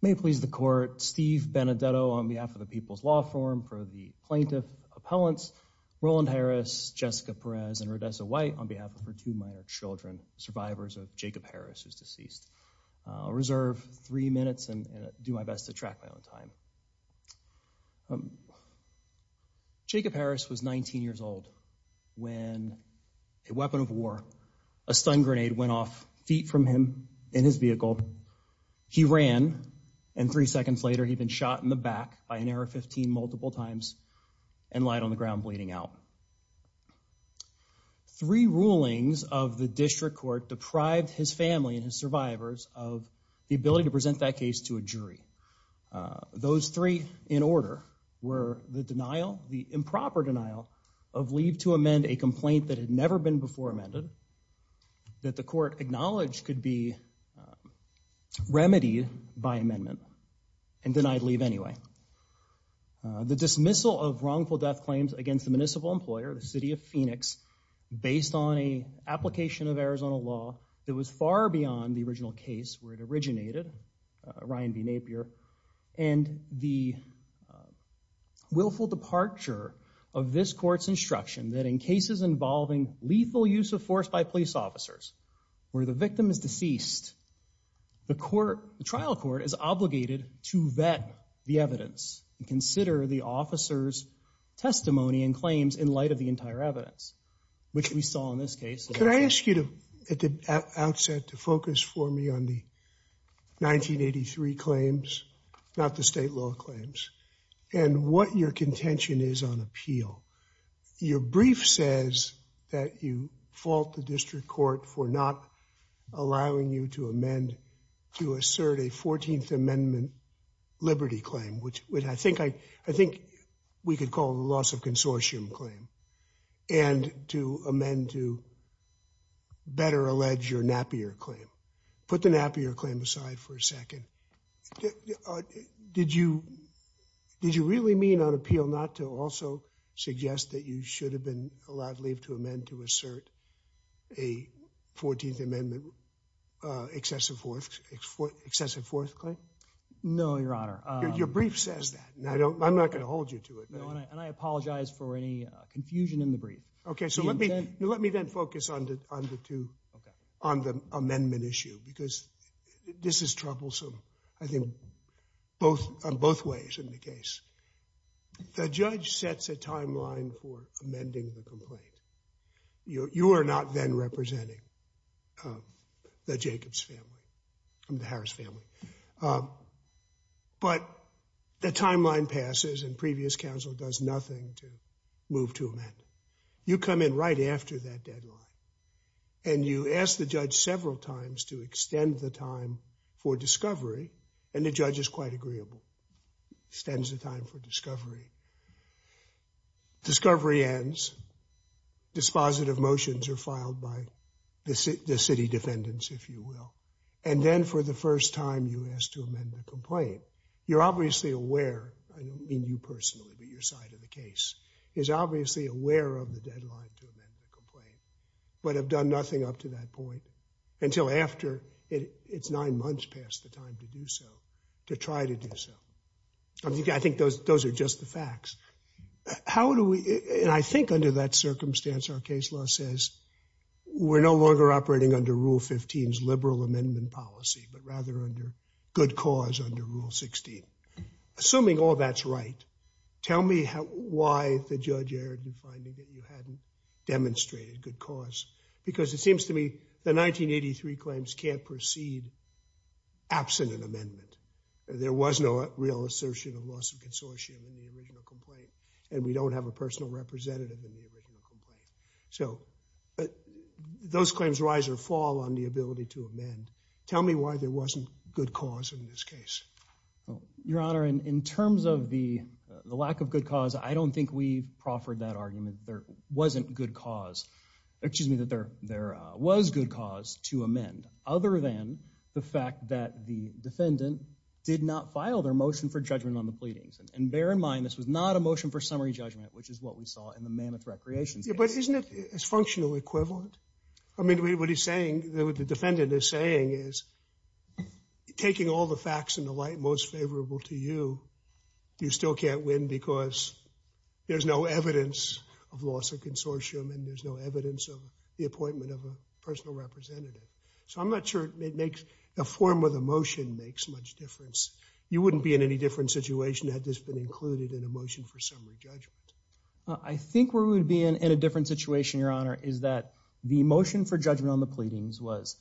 May please the court Steve Benedetto on behalf of the People's Law Forum for the plaintiff appellants Roland Harris Jessica Perez and Rhodessa White on behalf of her two minor children survivors of Jacob Harris who's deceased. I'll reserve three minutes and do my best to track my own time. Jacob feet from him in his vehicle he ran and three seconds later he'd been shot in the back by an AR-15 multiple times and lied on the ground bleeding out. Three rulings of the district court deprived his family and his survivors of the ability to present that case to a jury. Those three in order were the denial the improper denial of leave to amend a complaint that had never been before amended that the court acknowledged could be remedied by amendment and denied leave anyway. The dismissal of wrongful death claims against the municipal employer the City of Phoenix based on a application of Arizona law that was far beyond the original case where it originated Ryan B Napier and the willful departure of this court's instruction that in cases involving lethal use of force by police officers where the victim is deceased the court the trial court is obligated to vet the evidence and consider the officers testimony and claims in light of the entire evidence which we saw in this case. Could I ask you to at the outset to focus for me on the 1983 claims not the you fault the district court for not allowing you to amend to assert a 14th amendment liberty claim which would I think I I think we could call the loss of consortium claim and to amend to better allege your Napier claim. Put the Napier claim aside for a second. Did you did you really mean on appeal not to suggest that you should have been allowed leave to amend to assert a 14th amendment excessive forth excessive forth claim? No, your honor. Your brief says that and I don't I'm not gonna hold you to it. And I apologize for any confusion in the brief. Okay, so let me let me then focus on the two on the amendment issue because this is troublesome I think both on both ways in the case. The judge sets a timeline for amending the complaint. You are not then representing the Jacobs family. I'm the Harris family. Uh, but the timeline passes and previous counsel does nothing to move to amend. You come in right after that deadline and you ask the judge several times to extend the time for discovery and the judge is quite agreeable. Extends the time for discovery. Discovery ends. Dispositive motions are filed by the city defendants, if you will. And then for the first time you ask to amend the complaint. You're obviously aware, I don't mean you personally, but your side of the case is obviously aware of the deadline to amend the complaint, but have done nothing up to that point until after it's nine months past the time to do so, to try to do so. I think those those are just the facts. How do we, and I think under that circumstance our case law says we're no longer operating under Rule 15's liberal amendment policy, but rather under good cause under Rule 16. Assuming all that's right, tell me how why the judge erred in finding that you hadn't demonstrated good cause because it seems to me the 1983 claims can't proceed absent an amendment. There was no real assertion of loss of consortium in the original complaint and we don't have a personal representative in the original complaint. So those claims rise or fall on the ability to amend. Tell me why there wasn't good cause in this case. Your Honor, in terms of the lack of good cause, there wasn't good cause, excuse me, that there there was good cause to amend other than the fact that the defendant did not file their motion for judgment on the pleadings. And bear in mind this was not a motion for summary judgment, which is what we saw in the Mammoth Recreations case. But isn't it its functional equivalent? I mean, what he's saying, what the defendant is saying is taking all the facts into light most favorable to you, you still can't win because there's no evidence of loss of consortium and there's no evidence of the appointment of a personal representative. So I'm not sure it makes, a form of a motion makes much difference. You wouldn't be in any different situation had this been included in a motion for summary judgment. I think we would be in a different situation, Your Honor, is that the motion for judgment on the pleadings was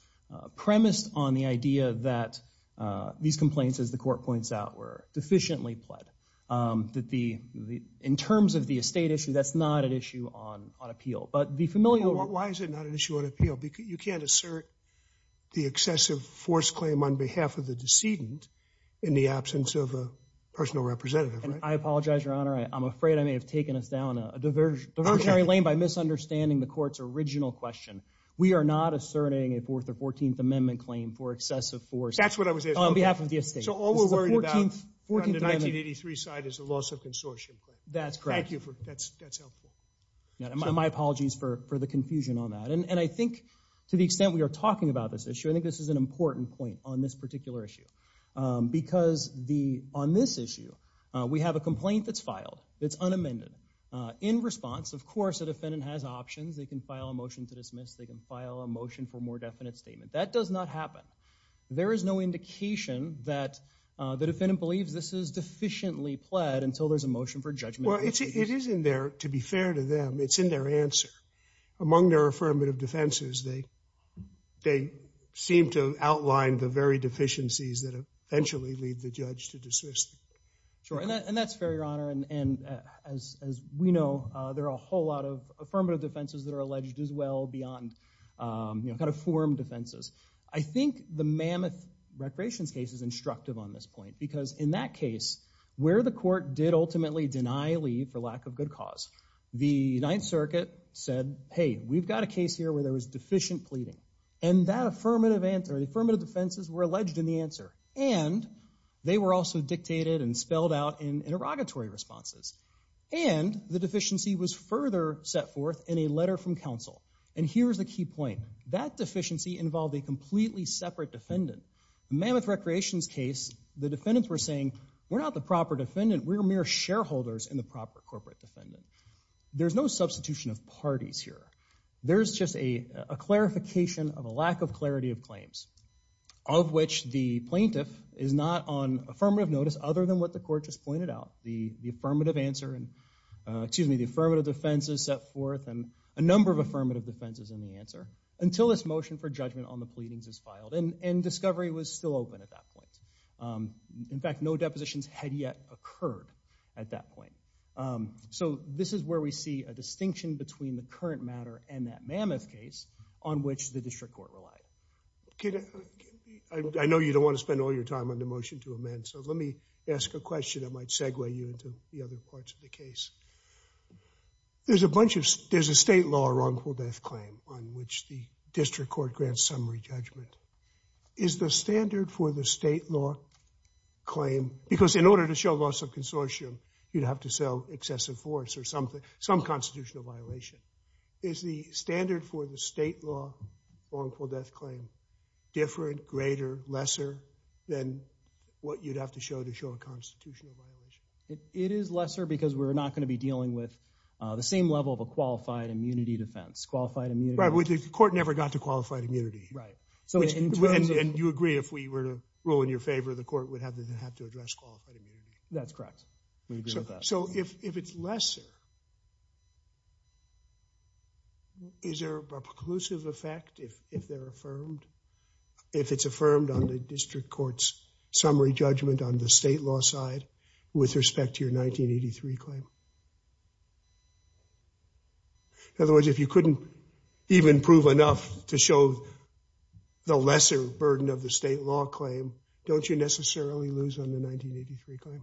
premised on the idea that these complaints, as the court points out, were deficiently pled. That the, in terms of the estate issue, that's not an issue on appeal. But the familiar... Why is it not an issue on appeal? Because you can't assert the excessive force claim on behalf of the decedent in the absence of a personal representative, right? And I apologize, Your Honor, I'm afraid I may have taken us down a diversionary lane by misunderstanding the court's original question. We are not asserting a 4th or 14th Amendment claim for excessive force. That's what I was asking. On behalf of the estate. So all we're worried about on the 1983 side is the loss of consortium claim. That's correct. Thank you for, that's helpful. My apologies for the confusion on that. And I think to the extent we are talking about this issue, I think this is an important point on this particular issue. Because the, on this issue, we have a complaint that's filed. It's unamended. In response, of course a defendant has options. They can file a motion to dismiss. They can file a motion for more definite statement. That does not happen. There is no indication that the defendant believes this is deficiently pled until there's a motion for judgment. Well, it is in there, to be fair to them, it's in their answer. Among their affirmative defenses, they, they seem to outline the very deficiencies that eventually lead the judge to dismiss. Sure, and that's fair, Your Honor. And as we know, there are a whole lot of affirmative defenses that are alleged as beyond, you know, kind of form defenses. I think the Mammoth Recreations case is instructive on this point. Because in that case, where the court did ultimately deny leave for lack of good cause, the Ninth Circuit said, hey, we've got a case here where there was deficient pleading. And that affirmative answer, the affirmative defenses were alleged in the answer. And they were also dictated and spelled out in interrogatory responses. And the deficiency was further set forth in a And here's the key point. That deficiency involved a completely separate defendant. The Mammoth Recreations case, the defendants were saying, we're not the proper defendant, we're mere shareholders in the proper corporate defendant. There's no substitution of parties here. There's just a clarification of a lack of clarity of claims, of which the plaintiff is not on affirmative notice other than what the court just pointed out. The, the affirmative answer and, affirmative defenses in the answer until this motion for judgment on the pleadings is filed. And, and discovery was still open at that point. In fact, no depositions had yet occurred at that point. So this is where we see a distinction between the current matter and that Mammoth case on which the district court relied. I know you don't want to spend all your time on the motion to amend, so let me ask a question that might segue you into the other parts of the case. There's a bunch of, there's a state law wrongful death claim on which the district court grants summary judgment. Is the standard for the state law claim, because in order to show loss of consortium, you'd have to sell excessive force or something, some constitutional violation. Is the standard for the state law wrongful death claim different, greater, lesser than what you'd have to show to show a constitutional violation? It is lesser because we're not going to be dealing with the same level of a qualified immunity defense. Qualified immunity. Right, but the court never got to qualified immunity. Right. So, and you agree if we were to rule in your favor, the court would have to address qualified immunity. That's correct. So, if it's lesser, is there a preclusive effect if, if they're affirmed? If it's affirmed on respect to your 1983 claim? In other words, if you couldn't even prove enough to show the lesser burden of the state law claim, don't you necessarily lose on the 1983 claim?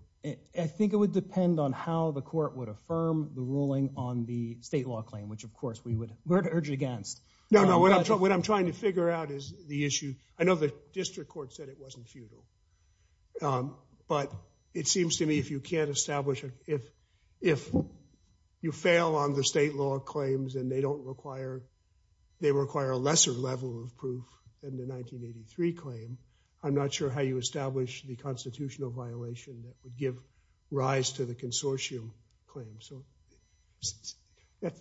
I think it would depend on how the court would affirm the ruling on the state law claim, which of course we would urge against. No, no, what I'm trying to figure out is the issue. I know the district court said it wasn't futile, but it seems to me if you can't establish, if, if you fail on the state law claims and they don't require, they require a lesser level of proof than the 1983 claim, I'm not sure how you establish the constitutional violation that would give rise to the consortium claim. So,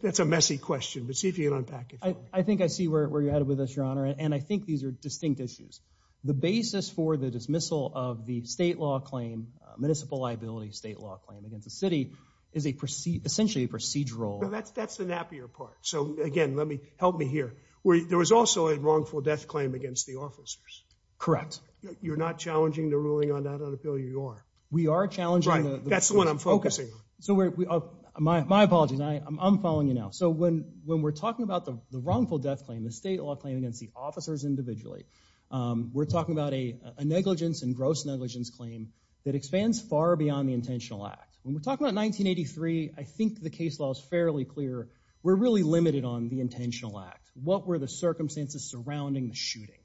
that's a messy question, but see if you can unpack it for me. I think I see where you're headed with us, Your Honor, and I think these are distinct issues. The basis for the dismissal of the state law claim, municipal liability state law claim against the city, is a proceed, essentially a procedural. That's, that's the nappier part. So, again, let me, help me here. There was also a wrongful death claim against the officers. Correct. You're not challenging the ruling on that on appeal? You are. We are challenging. Right, that's the one I'm focusing on. So, we're, my apologies, I'm following you now. So, when, when we're talking about the wrongful death claim, the state law claim against the officers individually, we're talking about a negligence and gross negligence claim that expands far beyond the intentional act. When we're talking about 1983, I think the case law is fairly clear. We're really limited on the intentional act. What were the circumstances surrounding the shooting?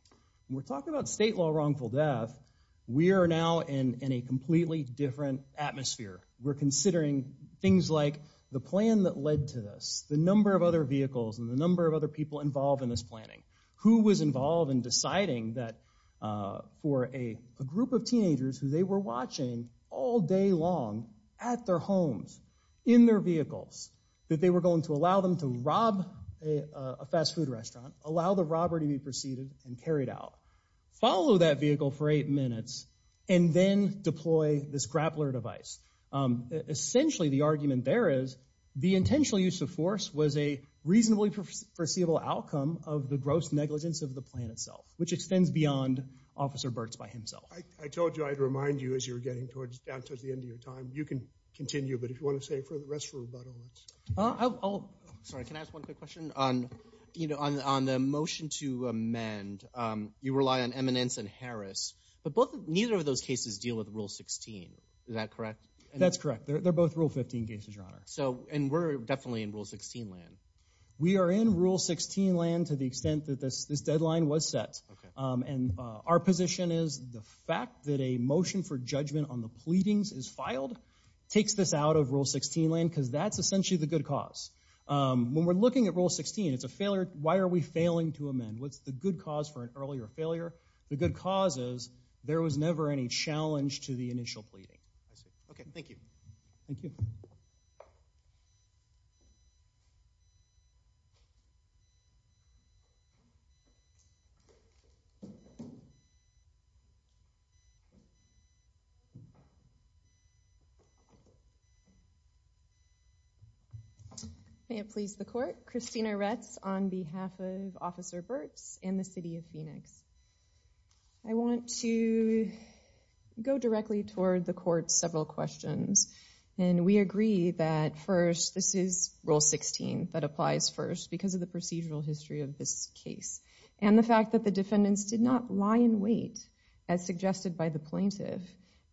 We're talking about state law wrongful death, we are now in a completely different atmosphere. We're considering things like the plan that led to this, the number of other vehicles, and the number of other people involved in this planning. Who was involved in deciding that for a group of teenagers who they were watching all day long at their homes, in their vehicles, that they were going to allow them to rob a fast-food restaurant, allow the robber to be preceded and carried out, follow that vehicle for eight minutes, and then deploy this grappler device. Essentially, the argument there is the intentional use of force was a reasonably foreseeable outcome of the gross negligence of the plan itself, which extends beyond Officer Burt's by himself. I told you I'd remind you as you're getting towards the end of your time. You can continue, but if you want to say for the rest of the rebuttal, I'll... Sorry, can I ask one quick question? On the motion to amend, you rely on Eminence and Harris, but neither of those cases deal with Rule 16. Is that correct? So, and we're definitely in Rule 16 land. We are in Rule 16 land to the extent that this deadline was set, and our position is the fact that a motion for judgment on the pleadings is filed takes this out of Rule 16 land, because that's essentially the good cause. When we're looking at Rule 16, it's a failure. Why are we failing to amend? What's the good cause for an earlier failure? The good cause is there was never any challenge to the initial pleading. Okay, thank you. May it please the Court, Christina Retz on behalf of Officer Burt's and the City of Phoenix. I want to go directly toward the Court's several questions, and we agree that first, this is Rule 16 that applies first because of the procedural history of this case, and the fact that the defendants did not lie in wait, as suggested by the plaintiff,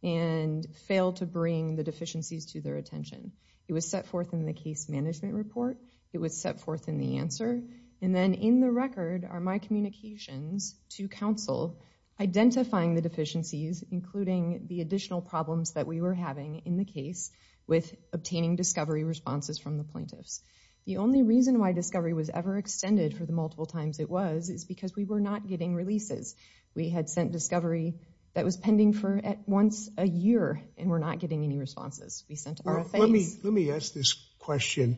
and failed to bring the deficiencies to their attention. It was set forth in the case management report. It was set forth in the answer, and then in the record are my communications to counsel identifying the deficiencies, including the additional problems that we were having in the case with obtaining discovery responses from the plaintiffs. The only reason why discovery was ever extended for the multiple times it was, is because we were not getting releases. We had sent discovery that was pending for at once a year, and we're not getting any responses. We sent RFAs. Let me ask this question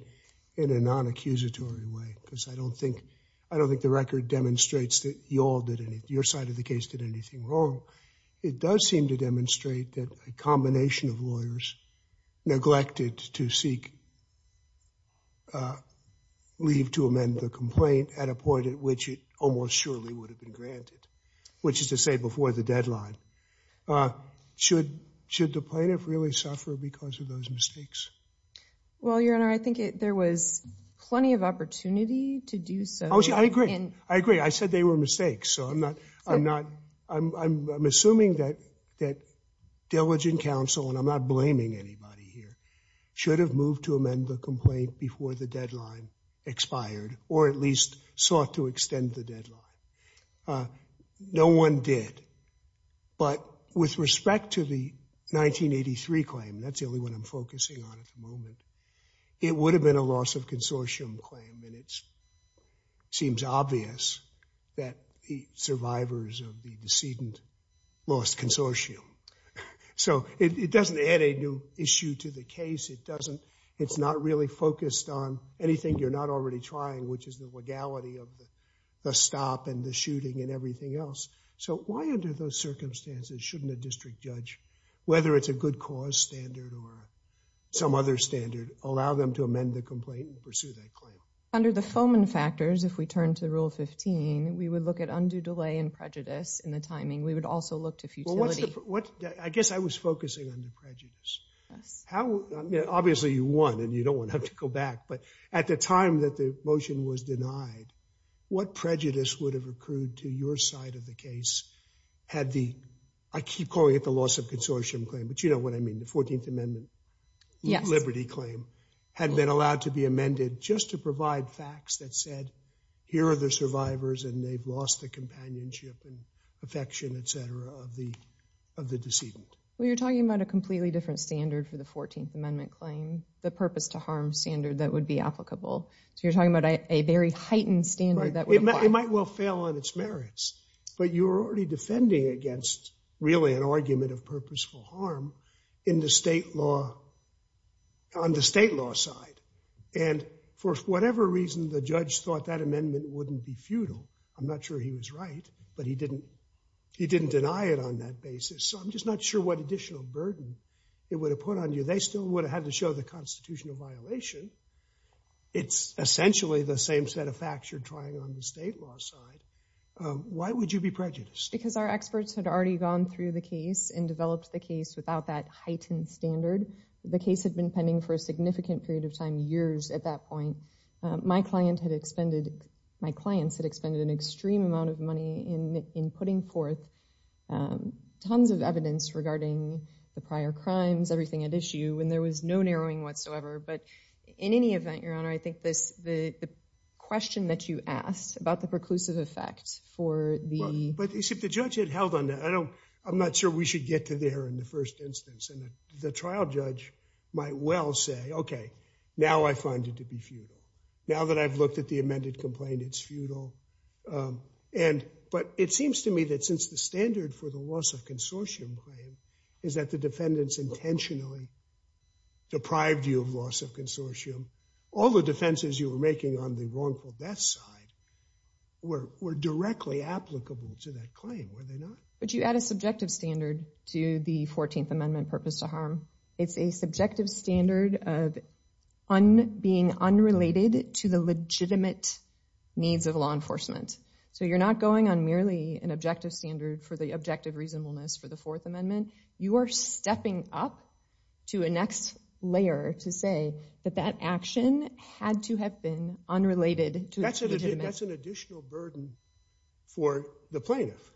in a non-accusatory way, because I don't think, I don't think the record demonstrates that you all did anything, your side of the case did anything wrong. It does seem to point to seek leave to amend the complaint at a point at which it almost surely would have been granted, which is to say before the deadline. Should the plaintiff really suffer because of those mistakes? Well, Your Honor, I think there was plenty of opportunity to do so. I agree. I agree. I said they were mistakes, so I'm not, I'm not, I'm assuming that diligent counsel, and I'm not blaming anybody here, should have moved to amend the complaint before the deadline expired, or at least sought to extend the deadline. No one did, but with respect to the 1983 claim, that's the only one I'm focusing on at the moment, it would have been a loss of consortium claim, and it So, it doesn't add a new issue to the case. It doesn't, it's not really focused on anything you're not already trying, which is the legality of the stop and the shooting and everything else. So, why under those circumstances shouldn't a district judge, whether it's a good cause standard or some other standard, allow them to amend the complaint and pursue that claim? Under the Foman factors, if we turn to Rule 15, we would look at undue delay and prejudice in the timing. We would also look to futility. What, I guess I was focusing on the prejudice. Yes. How, obviously you won and you don't want to have to go back, but at the time that the motion was denied, what prejudice would have accrued to your side of the case, had the, I keep calling it the loss of consortium claim, but you know what I mean, the 14th Amendment. Yes. Liberty claim had been allowed to be amended just to provide facts that said, here are the survivors and they've lost the companionship and affection, etc., of the, of the decedent. Well, you're talking about a completely different standard for the 14th Amendment claim, the purpose to harm standard that would be applicable. So, you're talking about a very heightened standard that would apply. It might well fail on its merits, but you're already defending against really an argument of purposeful harm in the state law, on the state law side, and for whatever reason the judge thought that was right, but he didn't, he didn't deny it on that basis. So, I'm just not sure what additional burden it would have put on you. They still would have had to show the constitutional violation. It's essentially the same set of facts you're trying on the state law side. Why would you be prejudiced? Because our experts had already gone through the case and developed the case without that heightened standard. The case had been pending for a significant period of time, years at that of money in, in putting forth tons of evidence regarding the prior crimes, everything at issue, and there was no narrowing whatsoever, but in any event, Your Honor, I think this, the question that you asked about the preclusive effect for the... But, except the judge had held on that. I don't, I'm not sure we should get to there in the first instance, and the trial judge might well say, okay, now I find it to be futile. Now that I've looked at the amended complaint, it's futile. And, but it seems to me that since the standard for the loss of consortium claim is that the defendants intentionally deprived you of loss of consortium, all the defenses you were making on the wrongful death side were, were directly applicable to that claim, were they not? But you add a subjective standard to the 14th Amendment purpose to harm. It's a subjective standard of being unrelated to the legitimate needs of law enforcement. So you're not going on merely an objective standard for the objective reasonableness for the Fourth Amendment. You are stepping up to a next layer to say that that action had to have been unrelated to... That's an additional burden for the plaintiff.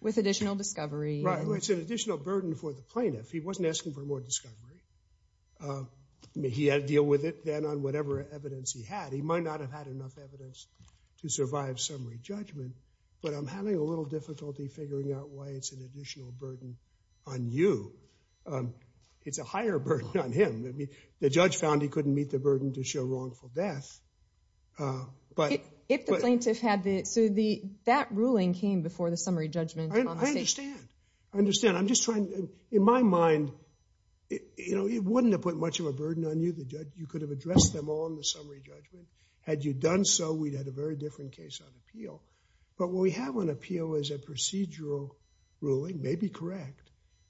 With additional discovery. Right, it's an additional burden for the plaintiff. He had to deal with it then on whatever evidence he had. He might not have had enough evidence to survive summary judgment, but I'm having a little difficulty figuring out why it's an additional burden on you. It's a higher burden on him. I mean, the judge found he couldn't meet the burden to show wrongful death, but... If the plaintiff had the... So the, that ruling came before the summary judgment. I understand. I understand. I'm just trying, in my mind, you know, it you could have addressed them all in the summary judgment. Had you done so, we'd had a very different case on appeal. But what we have on appeal is a procedural ruling, maybe correct,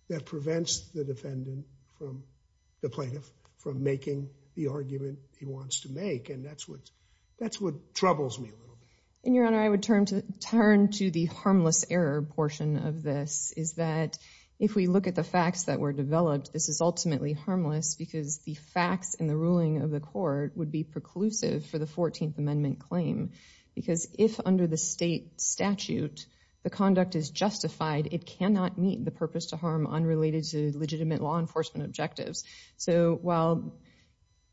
that prevents the defendant from, the plaintiff, from making the argument he wants to make. And that's what, that's what troubles me a little bit. And your honor, I would turn to turn to the harmless error portion of this. Is that if we look at the facts that were developed, this is ultimately harmless because the facts in the ruling of the court would be preclusive for the 14th amendment claim. Because if under the state statute, the conduct is justified, it cannot meet the purpose to harm unrelated to legitimate law enforcement objectives. So while,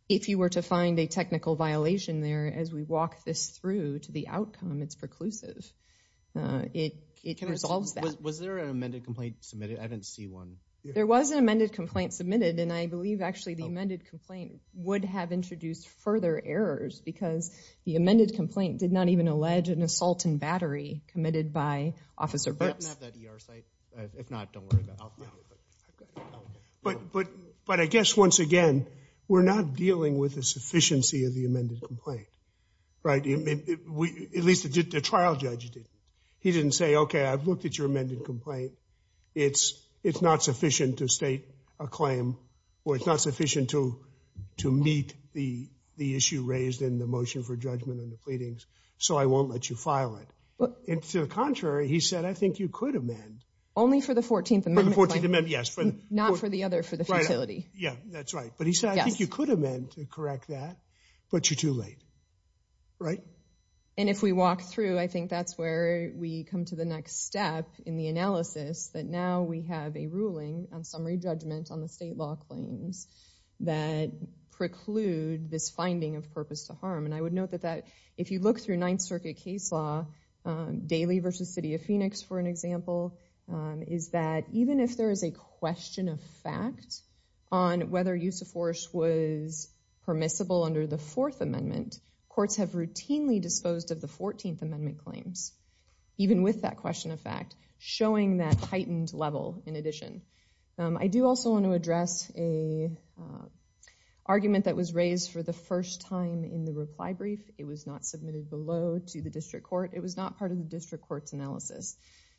if you were to find a technical violation there, as we walk this through to the outcome, it's preclusive. It resolves that. Was there an amended complaint submitted? I didn't see one. There was an amended complaint submitted and I believe actually the amended complaint would have introduced further errors because the amended complaint did not even allege an assault and battery committed by Officer Burks. But, but, but I guess once again, we're not dealing with the sufficiency of the amended complaint, right? At least the trial judge did. He didn't say, okay, I've looked at your amended complaint. It's, it's not sufficient to state a claim or it's not sufficient to, to meet the, the issue raised in the motion for judgment and the pleadings, so I won't let you file it. But, and to the contrary, he said, I think you could amend. Only for the 14th amendment. For the 14th amendment, yes. Not for the other, for the facility. Yeah, that's right. But he said, I think you could amend to correct that, but you're too late, right? And if we walk through, I think that's where we come to the next step in the analysis that now we have a ruling on summary judgment on the state law claims that preclude this finding of purpose to harm. And I would note that that, if you look through Ninth Circuit case law, Daly versus City of Phoenix for an example, is that even if there is a question of fact on whether use of force was permissible under the Fourth Amendment, courts have routinely disposed of the 14th Amendment claims, even with that question of fact, showing that heightened level in addition. I do also want to address a argument that was raised for the first time in the reply brief. It was not submitted below to the District Court. It was not part of the District Court's analysis.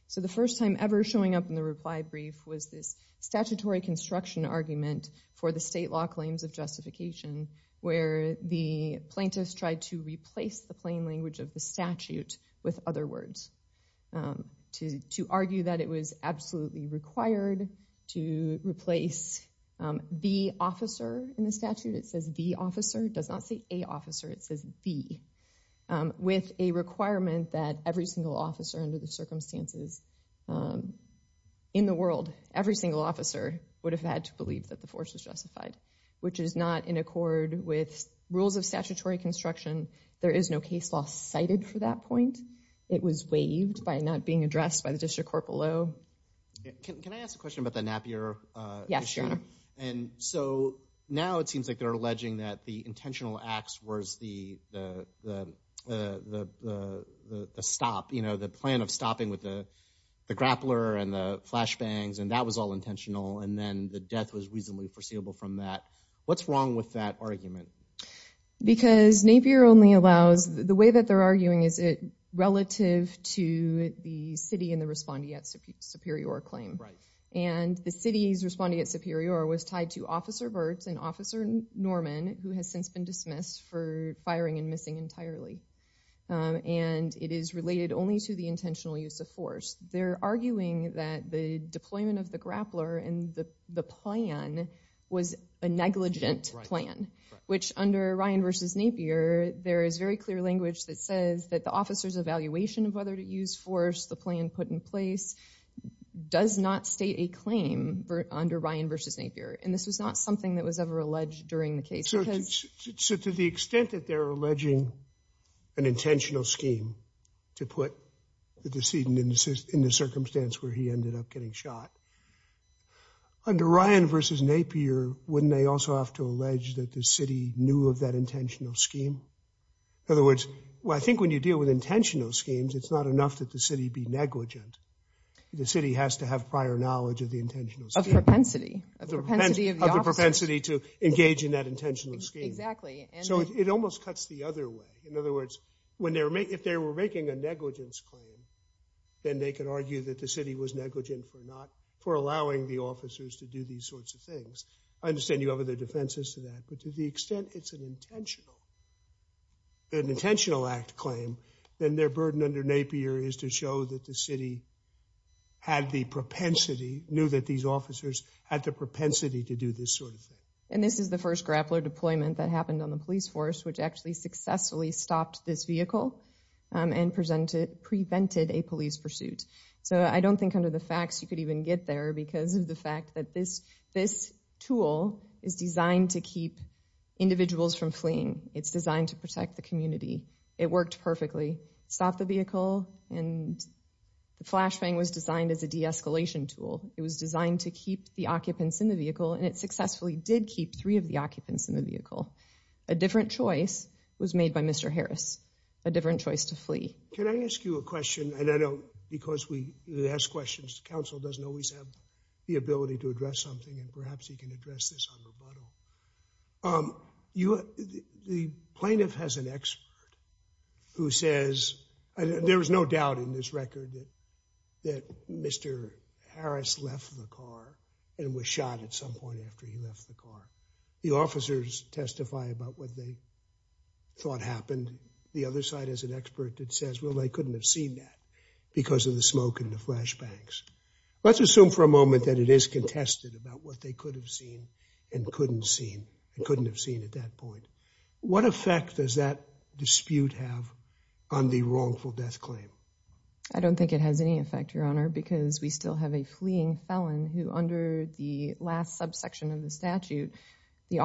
So the first time ever showing up in the reply brief was this statutory construction argument for the state law claims of justification where the plaintiffs tried to replace the plain language of the statute with other words, to argue that it was absolutely required to replace the officer in the statute. It says the officer. It does not say a officer. It says the, with a requirement that every single officer under the circumstances in the world, every single officer, would have had to believe that the force was justified, which is not in accord with statutory construction. There is no case law cited for that point. It was waived by not being addressed by the District Court below. Can I ask a question about the Napier? Yes, Your Honor. And so now it seems like they're alleging that the intentional acts was the stop, you know, the plan of stopping with the grappler and the flashbangs, and that was all intentional, and then the death was reasonably foreseeable from that. What's wrong with that argument? Because Napier only allows, the way that they're arguing is it relative to the city and the respondeat superior claim. Right. And the city's respondeat superior was tied to Officer Bertz and Officer Norman, who has since been dismissed for firing and missing entirely. And it is related only to the intentional use of force. They're alleging that the plan was a negligent plan, which under Ryan v. Napier, there is very clear language that says that the officer's evaluation of whether to use force, the plan put in place, does not state a claim under Ryan v. Napier. And this was not something that was ever alleged during the case. So to the extent that they're alleging an intentional scheme to put the decedent in the circumstance where he ended up getting shot, under Ryan v. Napier, wouldn't they also have to allege that the city knew of that intentional scheme? In other words, well I think when you deal with intentional schemes, it's not enough that the city be negligent. The city has to have prior knowledge of the intentional scheme. Of propensity. Of the propensity to engage in that intentional scheme. Exactly. So it almost cuts the other way. In other words, if they were making a negligence claim, then they could argue that the city was negligent for not, for allowing the officers to do these sorts of things. I understand you have other defenses to that, but to the extent it's an intentional, an intentional act claim, then their burden under Napier is to show that the city had the propensity, knew that these officers had the propensity to do this sort of thing. And this is the first grappler deployment that happened on the police force, which actually successfully stopped this and prevented a police pursuit. So I don't think under the facts you could even get there because of the fact that this tool is designed to keep individuals from fleeing. It's designed to protect the community. It worked perfectly. Stopped the vehicle and the flashbang was designed as a de-escalation tool. It was designed to keep the occupants in the vehicle and it successfully did keep three of the occupants in the vehicle. A different choice was made by Mr. Harris, a different choice to flee. Can I ask you a question? And I know because we ask questions, the council doesn't always have the ability to address something and perhaps he can address this on rebuttal. Um, you, the plaintiff has an expert who says there is no doubt in this record that Mr. Harris left the car and was shot at some point after he thought happened. The other side is an expert that says, well, they couldn't have seen that because of the smoke in the flash banks. Let's assume for a moment that it is contested about what they could have seen and couldn't seen. I couldn't have seen at that point. What effect does that dispute have on the wrongful death claim? I don't think it has any effect, Your Honor, because we still have a fleeing felon who under the last subsection of the statute, the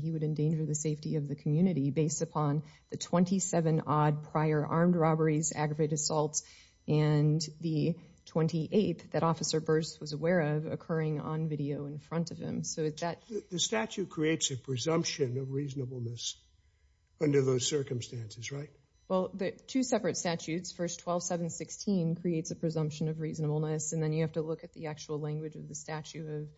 he would endanger the safety of the community based upon the 27 odd prior armed robberies, aggravated assaults and the 28th that officer Burrs was aware of occurring on video in front of him. So is that the statute creates a presumption of reasonableness under those circumstances, right? Well, the two separate statutes, first 12 7 16 creates a presumption of reasonableness. And then you have to look at the actual language of the statute of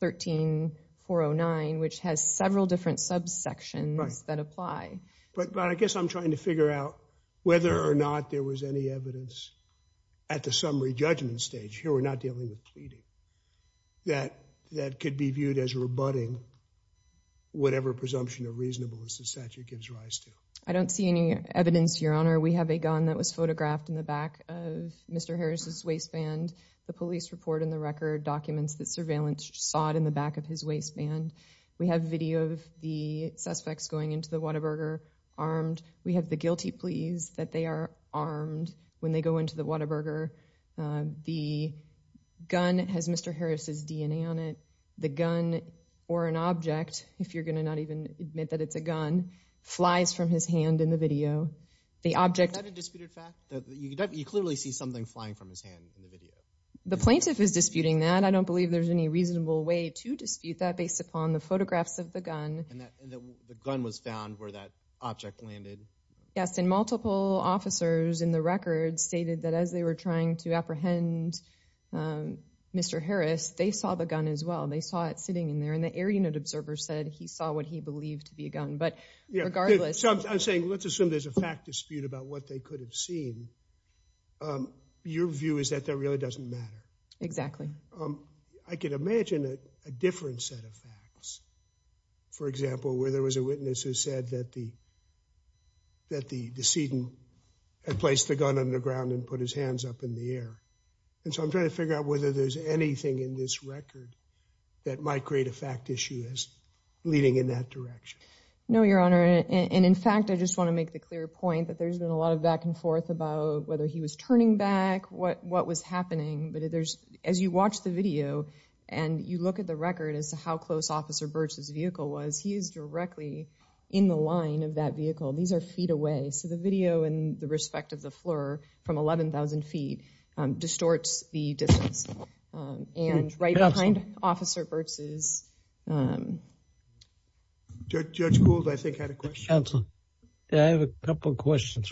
13 409, which has several different subsections that apply. But I guess I'm trying to figure out whether or not there was any evidence at the summary judgment stage here. We're not dealing with pleading that that could be viewed as rebutting whatever presumption of reasonableness the statute gives rise to. I don't see any evidence, Your Honor. We have a gun that was photographed in the back of Mr Harris's waistband. The police report in the record documents that surveillance sawed in the back of his waistband. We have video of the suspects going into the Whataburger armed. We have the guilty pleas that they are armed when they go into the Whataburger. The gun has Mr. Harris's DNA on it. The gun or an object, if you're gonna not even admit that it's a gun, flies from his hand in the video. The object... Is that a disputed fact? You clearly see something flying from his hand in the video. The plaintiff is disputing that. I don't believe there's any reasonable way to dispute that based upon the photographs of the gun. And the gun was found where that object landed? Yes, and multiple officers in the record stated that as they were trying to apprehend Mr. Harris, they saw the gun as well. They saw it sitting in there and the air unit observer said he saw what he believed to be a gun. But regardless... So I'm saying let's assume there's a fact dispute about what they could have seen. Your view is that that really doesn't matter? Exactly. I could imagine a different set of facts. For example, where there was a witness who said that the that the decedent had placed the gun underground and put his hands up in the air. And so I'm trying to figure out whether there's anything in this record that might create a fact issue as leading in that direction. No, Your Honor. And in fact, I just want to make the clear point that there's been a lot of back and forth about whether he was turning back, what what was happening. But there's, as you watch the video and you look at the record as to how close Officer Burtz's vehicle was, he is directly in the line of that vehicle. These are feet away. So the video in the respect of the Fleur from 11,000 feet distorts the distance. And right behind Officer Burtz's... Judge Gould, I think, had a question. Counsel, I have a question.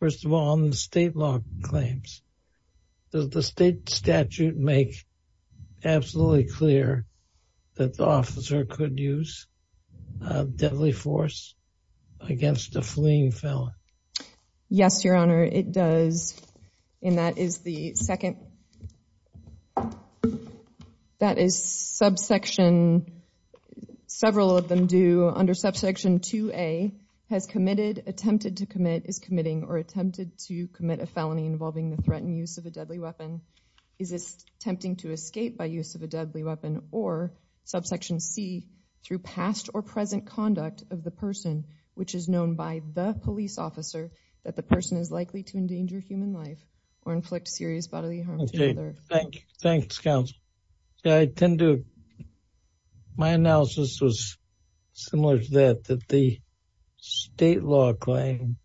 First of all, on the state law claims, does the state statute make absolutely clear that the officer could use deadly force against a fleeing felon? Yes, Your Honor, it does. And that is the second... that is subsection... several of them do under subsection 2A, has committed, attempted to commit, is committing, or attempted to commit a felony involving the threat and use of a deadly weapon. Is this tempting to escape by use of a deadly weapon? Or subsection C, through past or present conduct of the person, which is known by the police officer, that the person is likely to endanger human life or inflict serious bodily harm to the other. Okay, thank you. Thanks, Counsel. I tend to... my similar to that, that the state law claim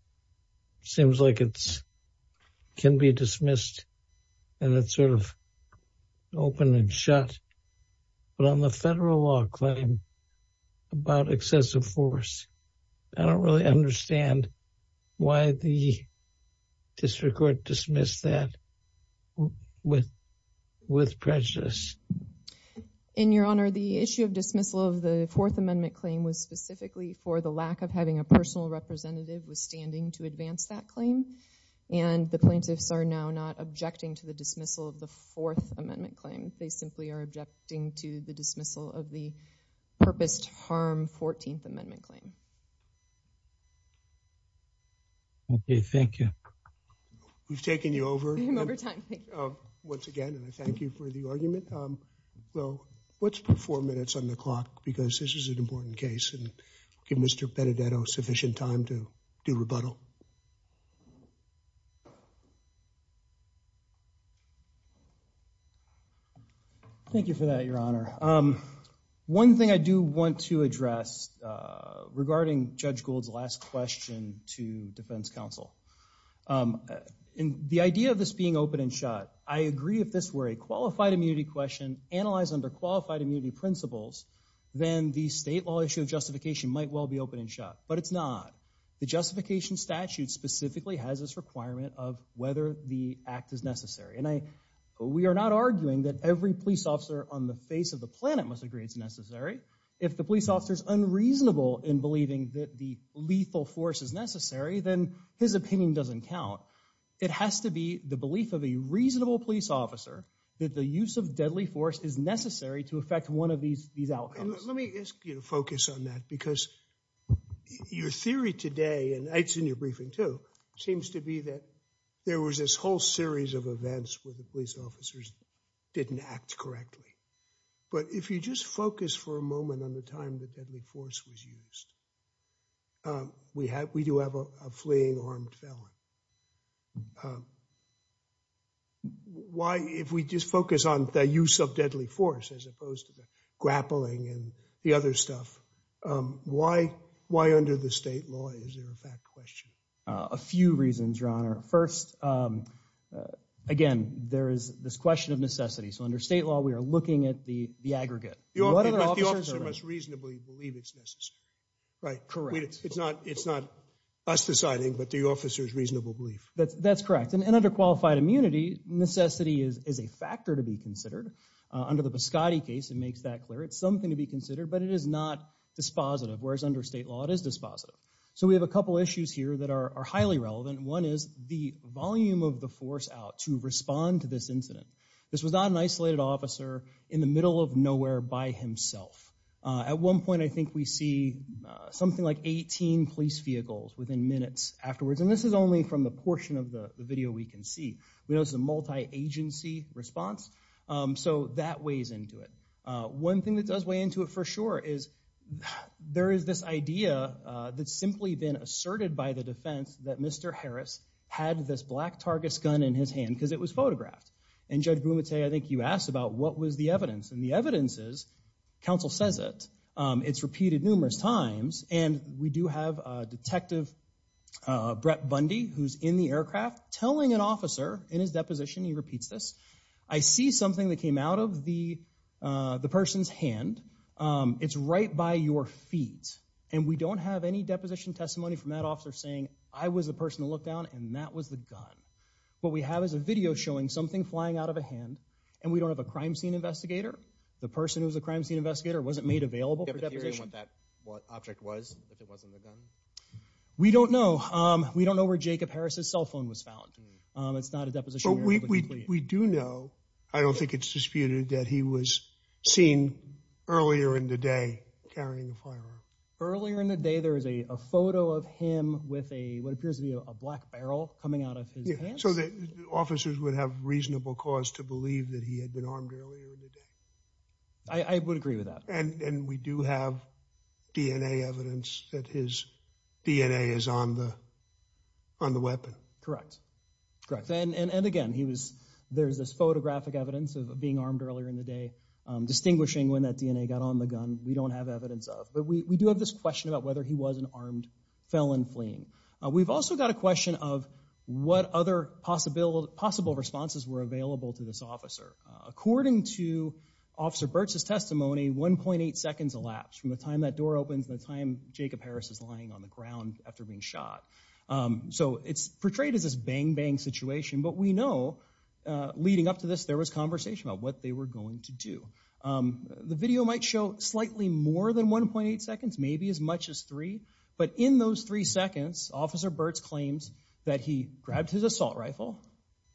seems like it can be dismissed and it's sort of open and shut. But on the federal law claim about excessive force, I don't really understand why the district court dismissed that with prejudice. And, Your Honor, the issue of dismissal of the Fourth Amendment claim was specifically for the lack of having a personal representative withstanding to advance that claim. And the plaintiffs are now not objecting to the dismissal of the Fourth Amendment claim. They simply are objecting to the dismissal of the purposed harm Fourteenth Amendment claim. Okay, thank you. We've taken you over... well, let's put four minutes on the clock because this is an important case and give Mr. Benedetto sufficient time to do rebuttal. Thank you for that, Your Honor. One thing I do want to address regarding Judge Gould's last question to Defense Counsel. In the idea of this being open and shut, I agree if this were a question analyzed under qualified immunity principles, then the state law issue of justification might well be open and shut. But it's not. The justification statute specifically has this requirement of whether the act is necessary. And we are not arguing that every police officer on the face of the planet must agree it's necessary. If the police officer is unreasonable in believing that the lethal force is necessary, then his opinion doesn't count. It has to be the belief of a reasonable police officer that the use of deadly force is necessary to affect one of these these outcomes. Let me ask you to focus on that because your theory today, and it's in your briefing too, seems to be that there was this whole series of events where the police officers didn't act correctly. But if you just focus for a moment on the time the deadly force was used, we do have a fleeing armed felon. Why, if we just focus on the use of deadly force as opposed to the grappling and the other stuff, why under the state law is there a fact question? A few reasons, Your Honor. First, again, there is this question of necessity. So under state law we are looking at the aggregate. The officer must reasonably believe it's necessary. Correct. It's not us deciding, but the officer's reasonable belief. That's correct. And under qualified immunity, necessity is a factor to be considered. Under the Biscotti case, it makes that clear. It's something to be considered, but it is not dispositive, whereas under state law it is dispositive. So we have a couple issues here that are highly relevant. One is the volume of the force out to respond to this incident. This was not an isolated officer in the middle of nowhere by himself. At one point I think we see something like 18 police vehicles within minutes afterwards, and this is only from the portion of the video we can see. We know it's a multi-agency response, so that weighs into it. One thing that does weigh into it for sure is there is this idea that's simply been asserted by the defense that Mr. Harris had this black Targus gun in his hand because it was photographed. And Judge Boone would say, I think you asked about what was the evidence, and the evidence is, counsel says it. It's repeated numerous times, and we do have Detective Brett Bundy, who's in the aircraft, telling an officer in his deposition, he repeats this, I see something that came out of the the person's hand. It's right by your feet, and we don't have any deposition testimony from that officer saying I was the person to look down and that was the gun. What we have is a video showing something flying out of a hand, and we don't have a crime scene investigator. The person who was a crime scene investigator wasn't made available for deposition. Do you have a theory on what that object was, if it wasn't a gun? We don't know. We don't know where Jacob Harris's cell phone was found. It's not a deposition. We do know, I don't think it's disputed, that he was seen earlier in the day carrying a firearm. Earlier in the day, there is a photo of him with a, what appears to be a black barrel coming out of his hands. So the officers would have reasonable cause to believe that he had been armed earlier in the day. I would DNA is on the weapon. Correct. And again, he was, there's this photographic evidence of being armed earlier in the day, distinguishing when that DNA got on the gun. We don't have evidence of, but we do have this question about whether he was an armed felon fleeing. We've also got a question of what other possible responses were available to this officer. According to Officer Burt's testimony, 1.8 seconds elapsed from the time that Jacob Harris is lying on the ground after being shot. So it's portrayed as this bang-bang situation, but we know leading up to this, there was conversation about what they were going to do. The video might show slightly more than 1.8 seconds, maybe as much as three, but in those three seconds, Officer Burt's claims that he grabbed his assault rifle,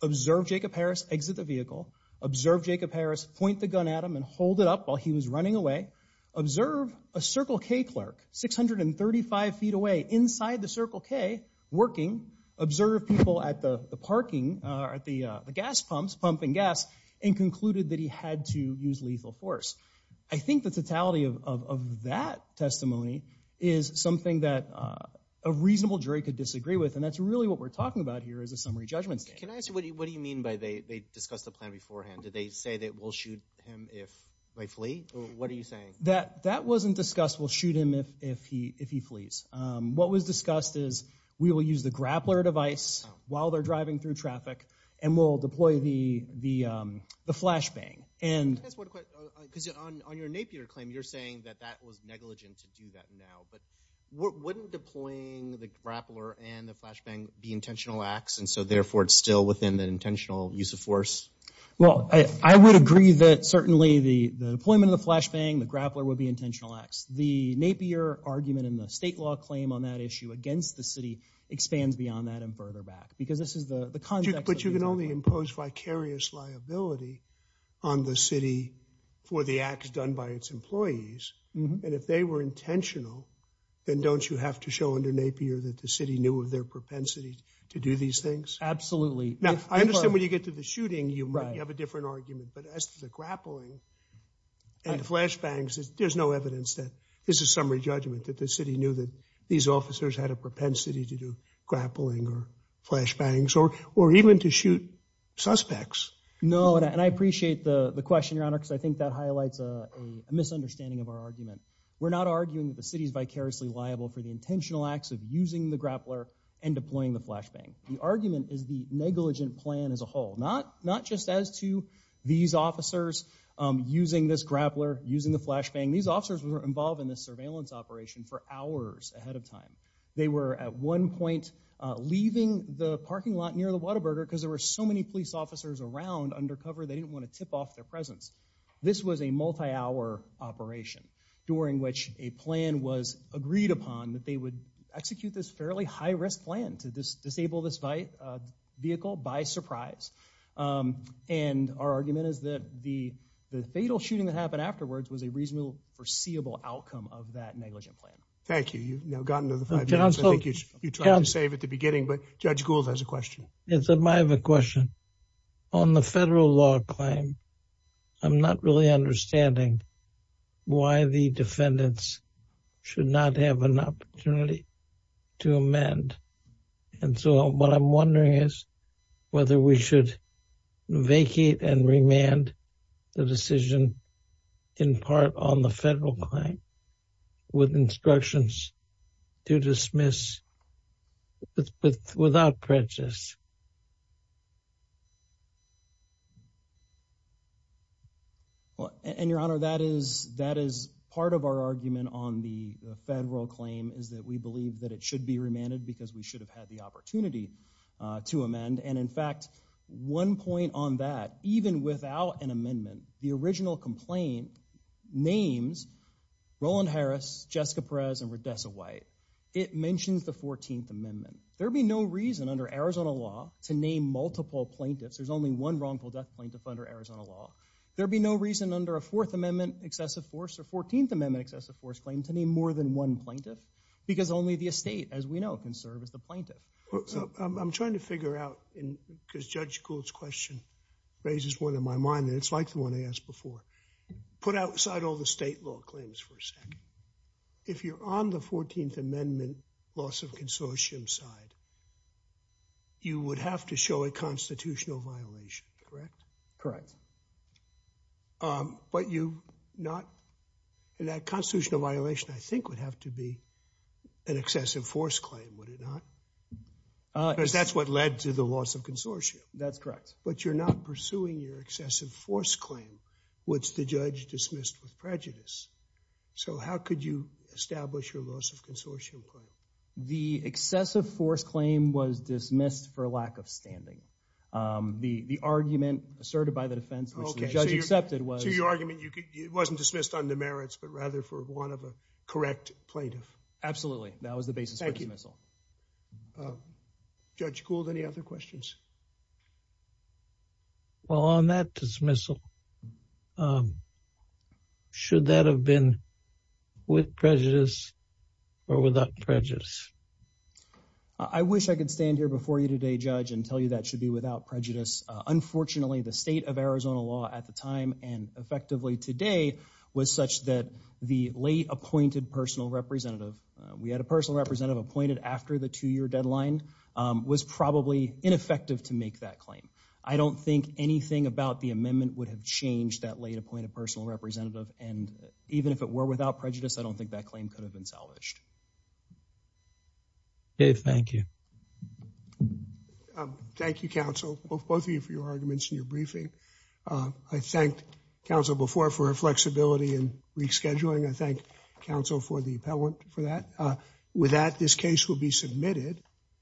observed Jacob Harris exit the vehicle, observed Jacob Harris point the gun at him and hold it up while he was running away, observed a Circle K clerk 635 feet away inside the Circle K working, observed people at the parking or at the gas pumps, pumping gas, and concluded that he had to use lethal force. I think the totality of that testimony is something that a reasonable jury could disagree with, and that's really what we're talking about here as a summary judgment. Can I ask you, what do you mean by they discussed the plan beforehand? Did they say that we'll shoot him if they flee? What are you saying? That wasn't discussed, we'll shoot him if he flees. What was discussed is we will use the grappler device while they're driving through traffic, and we'll deploy the flashbang. I guess I want to question, because on your Napier claim, you're saying that that was negligent to do that now, but wouldn't deploying the grappler and the flashbang be intentional acts, and so therefore it's still within the deployment of the flashbang, the grappler would be intentional acts. The Napier argument and the state law claim on that issue against the city expands beyond that and further back, because this is the context. But you can only impose vicarious liability on the city for the acts done by its employees, and if they were intentional, then don't you have to show under Napier that the city knew of their propensity to do these things? Absolutely. Now, I understand when you get to the shooting, you have a different argument, but as to the flashbangs, there's no evidence that this is summary judgment, that the city knew that these officers had a propensity to do grappling or flashbangs, or even to shoot suspects. No, and I appreciate the question, Your Honor, because I think that highlights a misunderstanding of our argument. We're not arguing that the city is vicariously liable for the intentional acts of using the grappler and deploying the flashbang. The argument is the negligent plan as a officers using this grappler, using the flashbang, these officers were involved in this surveillance operation for hours ahead of time. They were at one point leaving the parking lot near the Whataburger because there were so many police officers around undercover, they didn't want to tip off their presence. This was a multi-hour operation during which a plan was agreed upon that they would execute this fairly high-risk plan to disable this vehicle by surprise. And our argument is that the fatal shooting that happened afterwards was a reasonable foreseeable outcome of that negligent plan. Thank you. You've now gotten to the five minutes. I think you tried to save it at the beginning, but Judge Gould has a question. Yes, I have a question. On the federal law claim, I'm not really understanding why the defendants should not have an opinion on whether we should vacate and remand the decision in part on the federal claim with instructions to dismiss without prejudice. Well, and Your Honor, that is part of our argument on the federal claim, is that we believe that it should be remanded because we should have had the one point on that. Even without an amendment, the original complaint names Roland Harris, Jessica Perez, and Rhodessa White. It mentions the 14th Amendment. There'd be no reason under Arizona law to name multiple plaintiffs. There's only one wrongful death plaintiff under Arizona law. There'd be no reason under a Fourth Amendment excessive force or 14th Amendment excessive force claim to name more than one plaintiff because only the estate, as we know, can serve as the plaintiff. I'm trying to figure out, because Judge Gould's question raises one in my mind, and it's like the one I asked before. Put outside all the state law claims for a second. If you're on the 14th Amendment loss of consortium side, you would have to show a constitutional violation, correct? Correct. But you not, that constitutional violation I think would have to be an excessive force claim, would it not? Because that's what led to the loss of consortium. That's correct. But you're not pursuing your excessive force claim, which the judge dismissed with prejudice. So how could you establish your loss of consortium claim? The excessive force claim was dismissed for lack of standing. The argument asserted by the defense, which the judge accepted, was... So your argument, it wasn't dismissed on demerits, but rather for one of a correct plaintiff. Absolutely. That was the basis for dismissal. Judge Gould, any other questions? Well, on that dismissal, should that have been with prejudice or without prejudice? I wish I could stand here before you today, Judge, and tell you that should be without prejudice. Unfortunately, the state of Arizona law at the time, and effectively today, was such that the late appointed personal representative, we had a personal representative appointed after the two-year deadline, was probably ineffective to make that claim. I don't think anything about the amendment would have changed that late appointed personal representative, and even if it were without prejudice, I don't think that claim could have been salvaged. Dave, thank you. Thank you, counsel, both of you for your arguments in your briefing. I thanked counsel before for her flexibility and rescheduling. I thank counsel for the appellant for that. With that, this case will be submitted.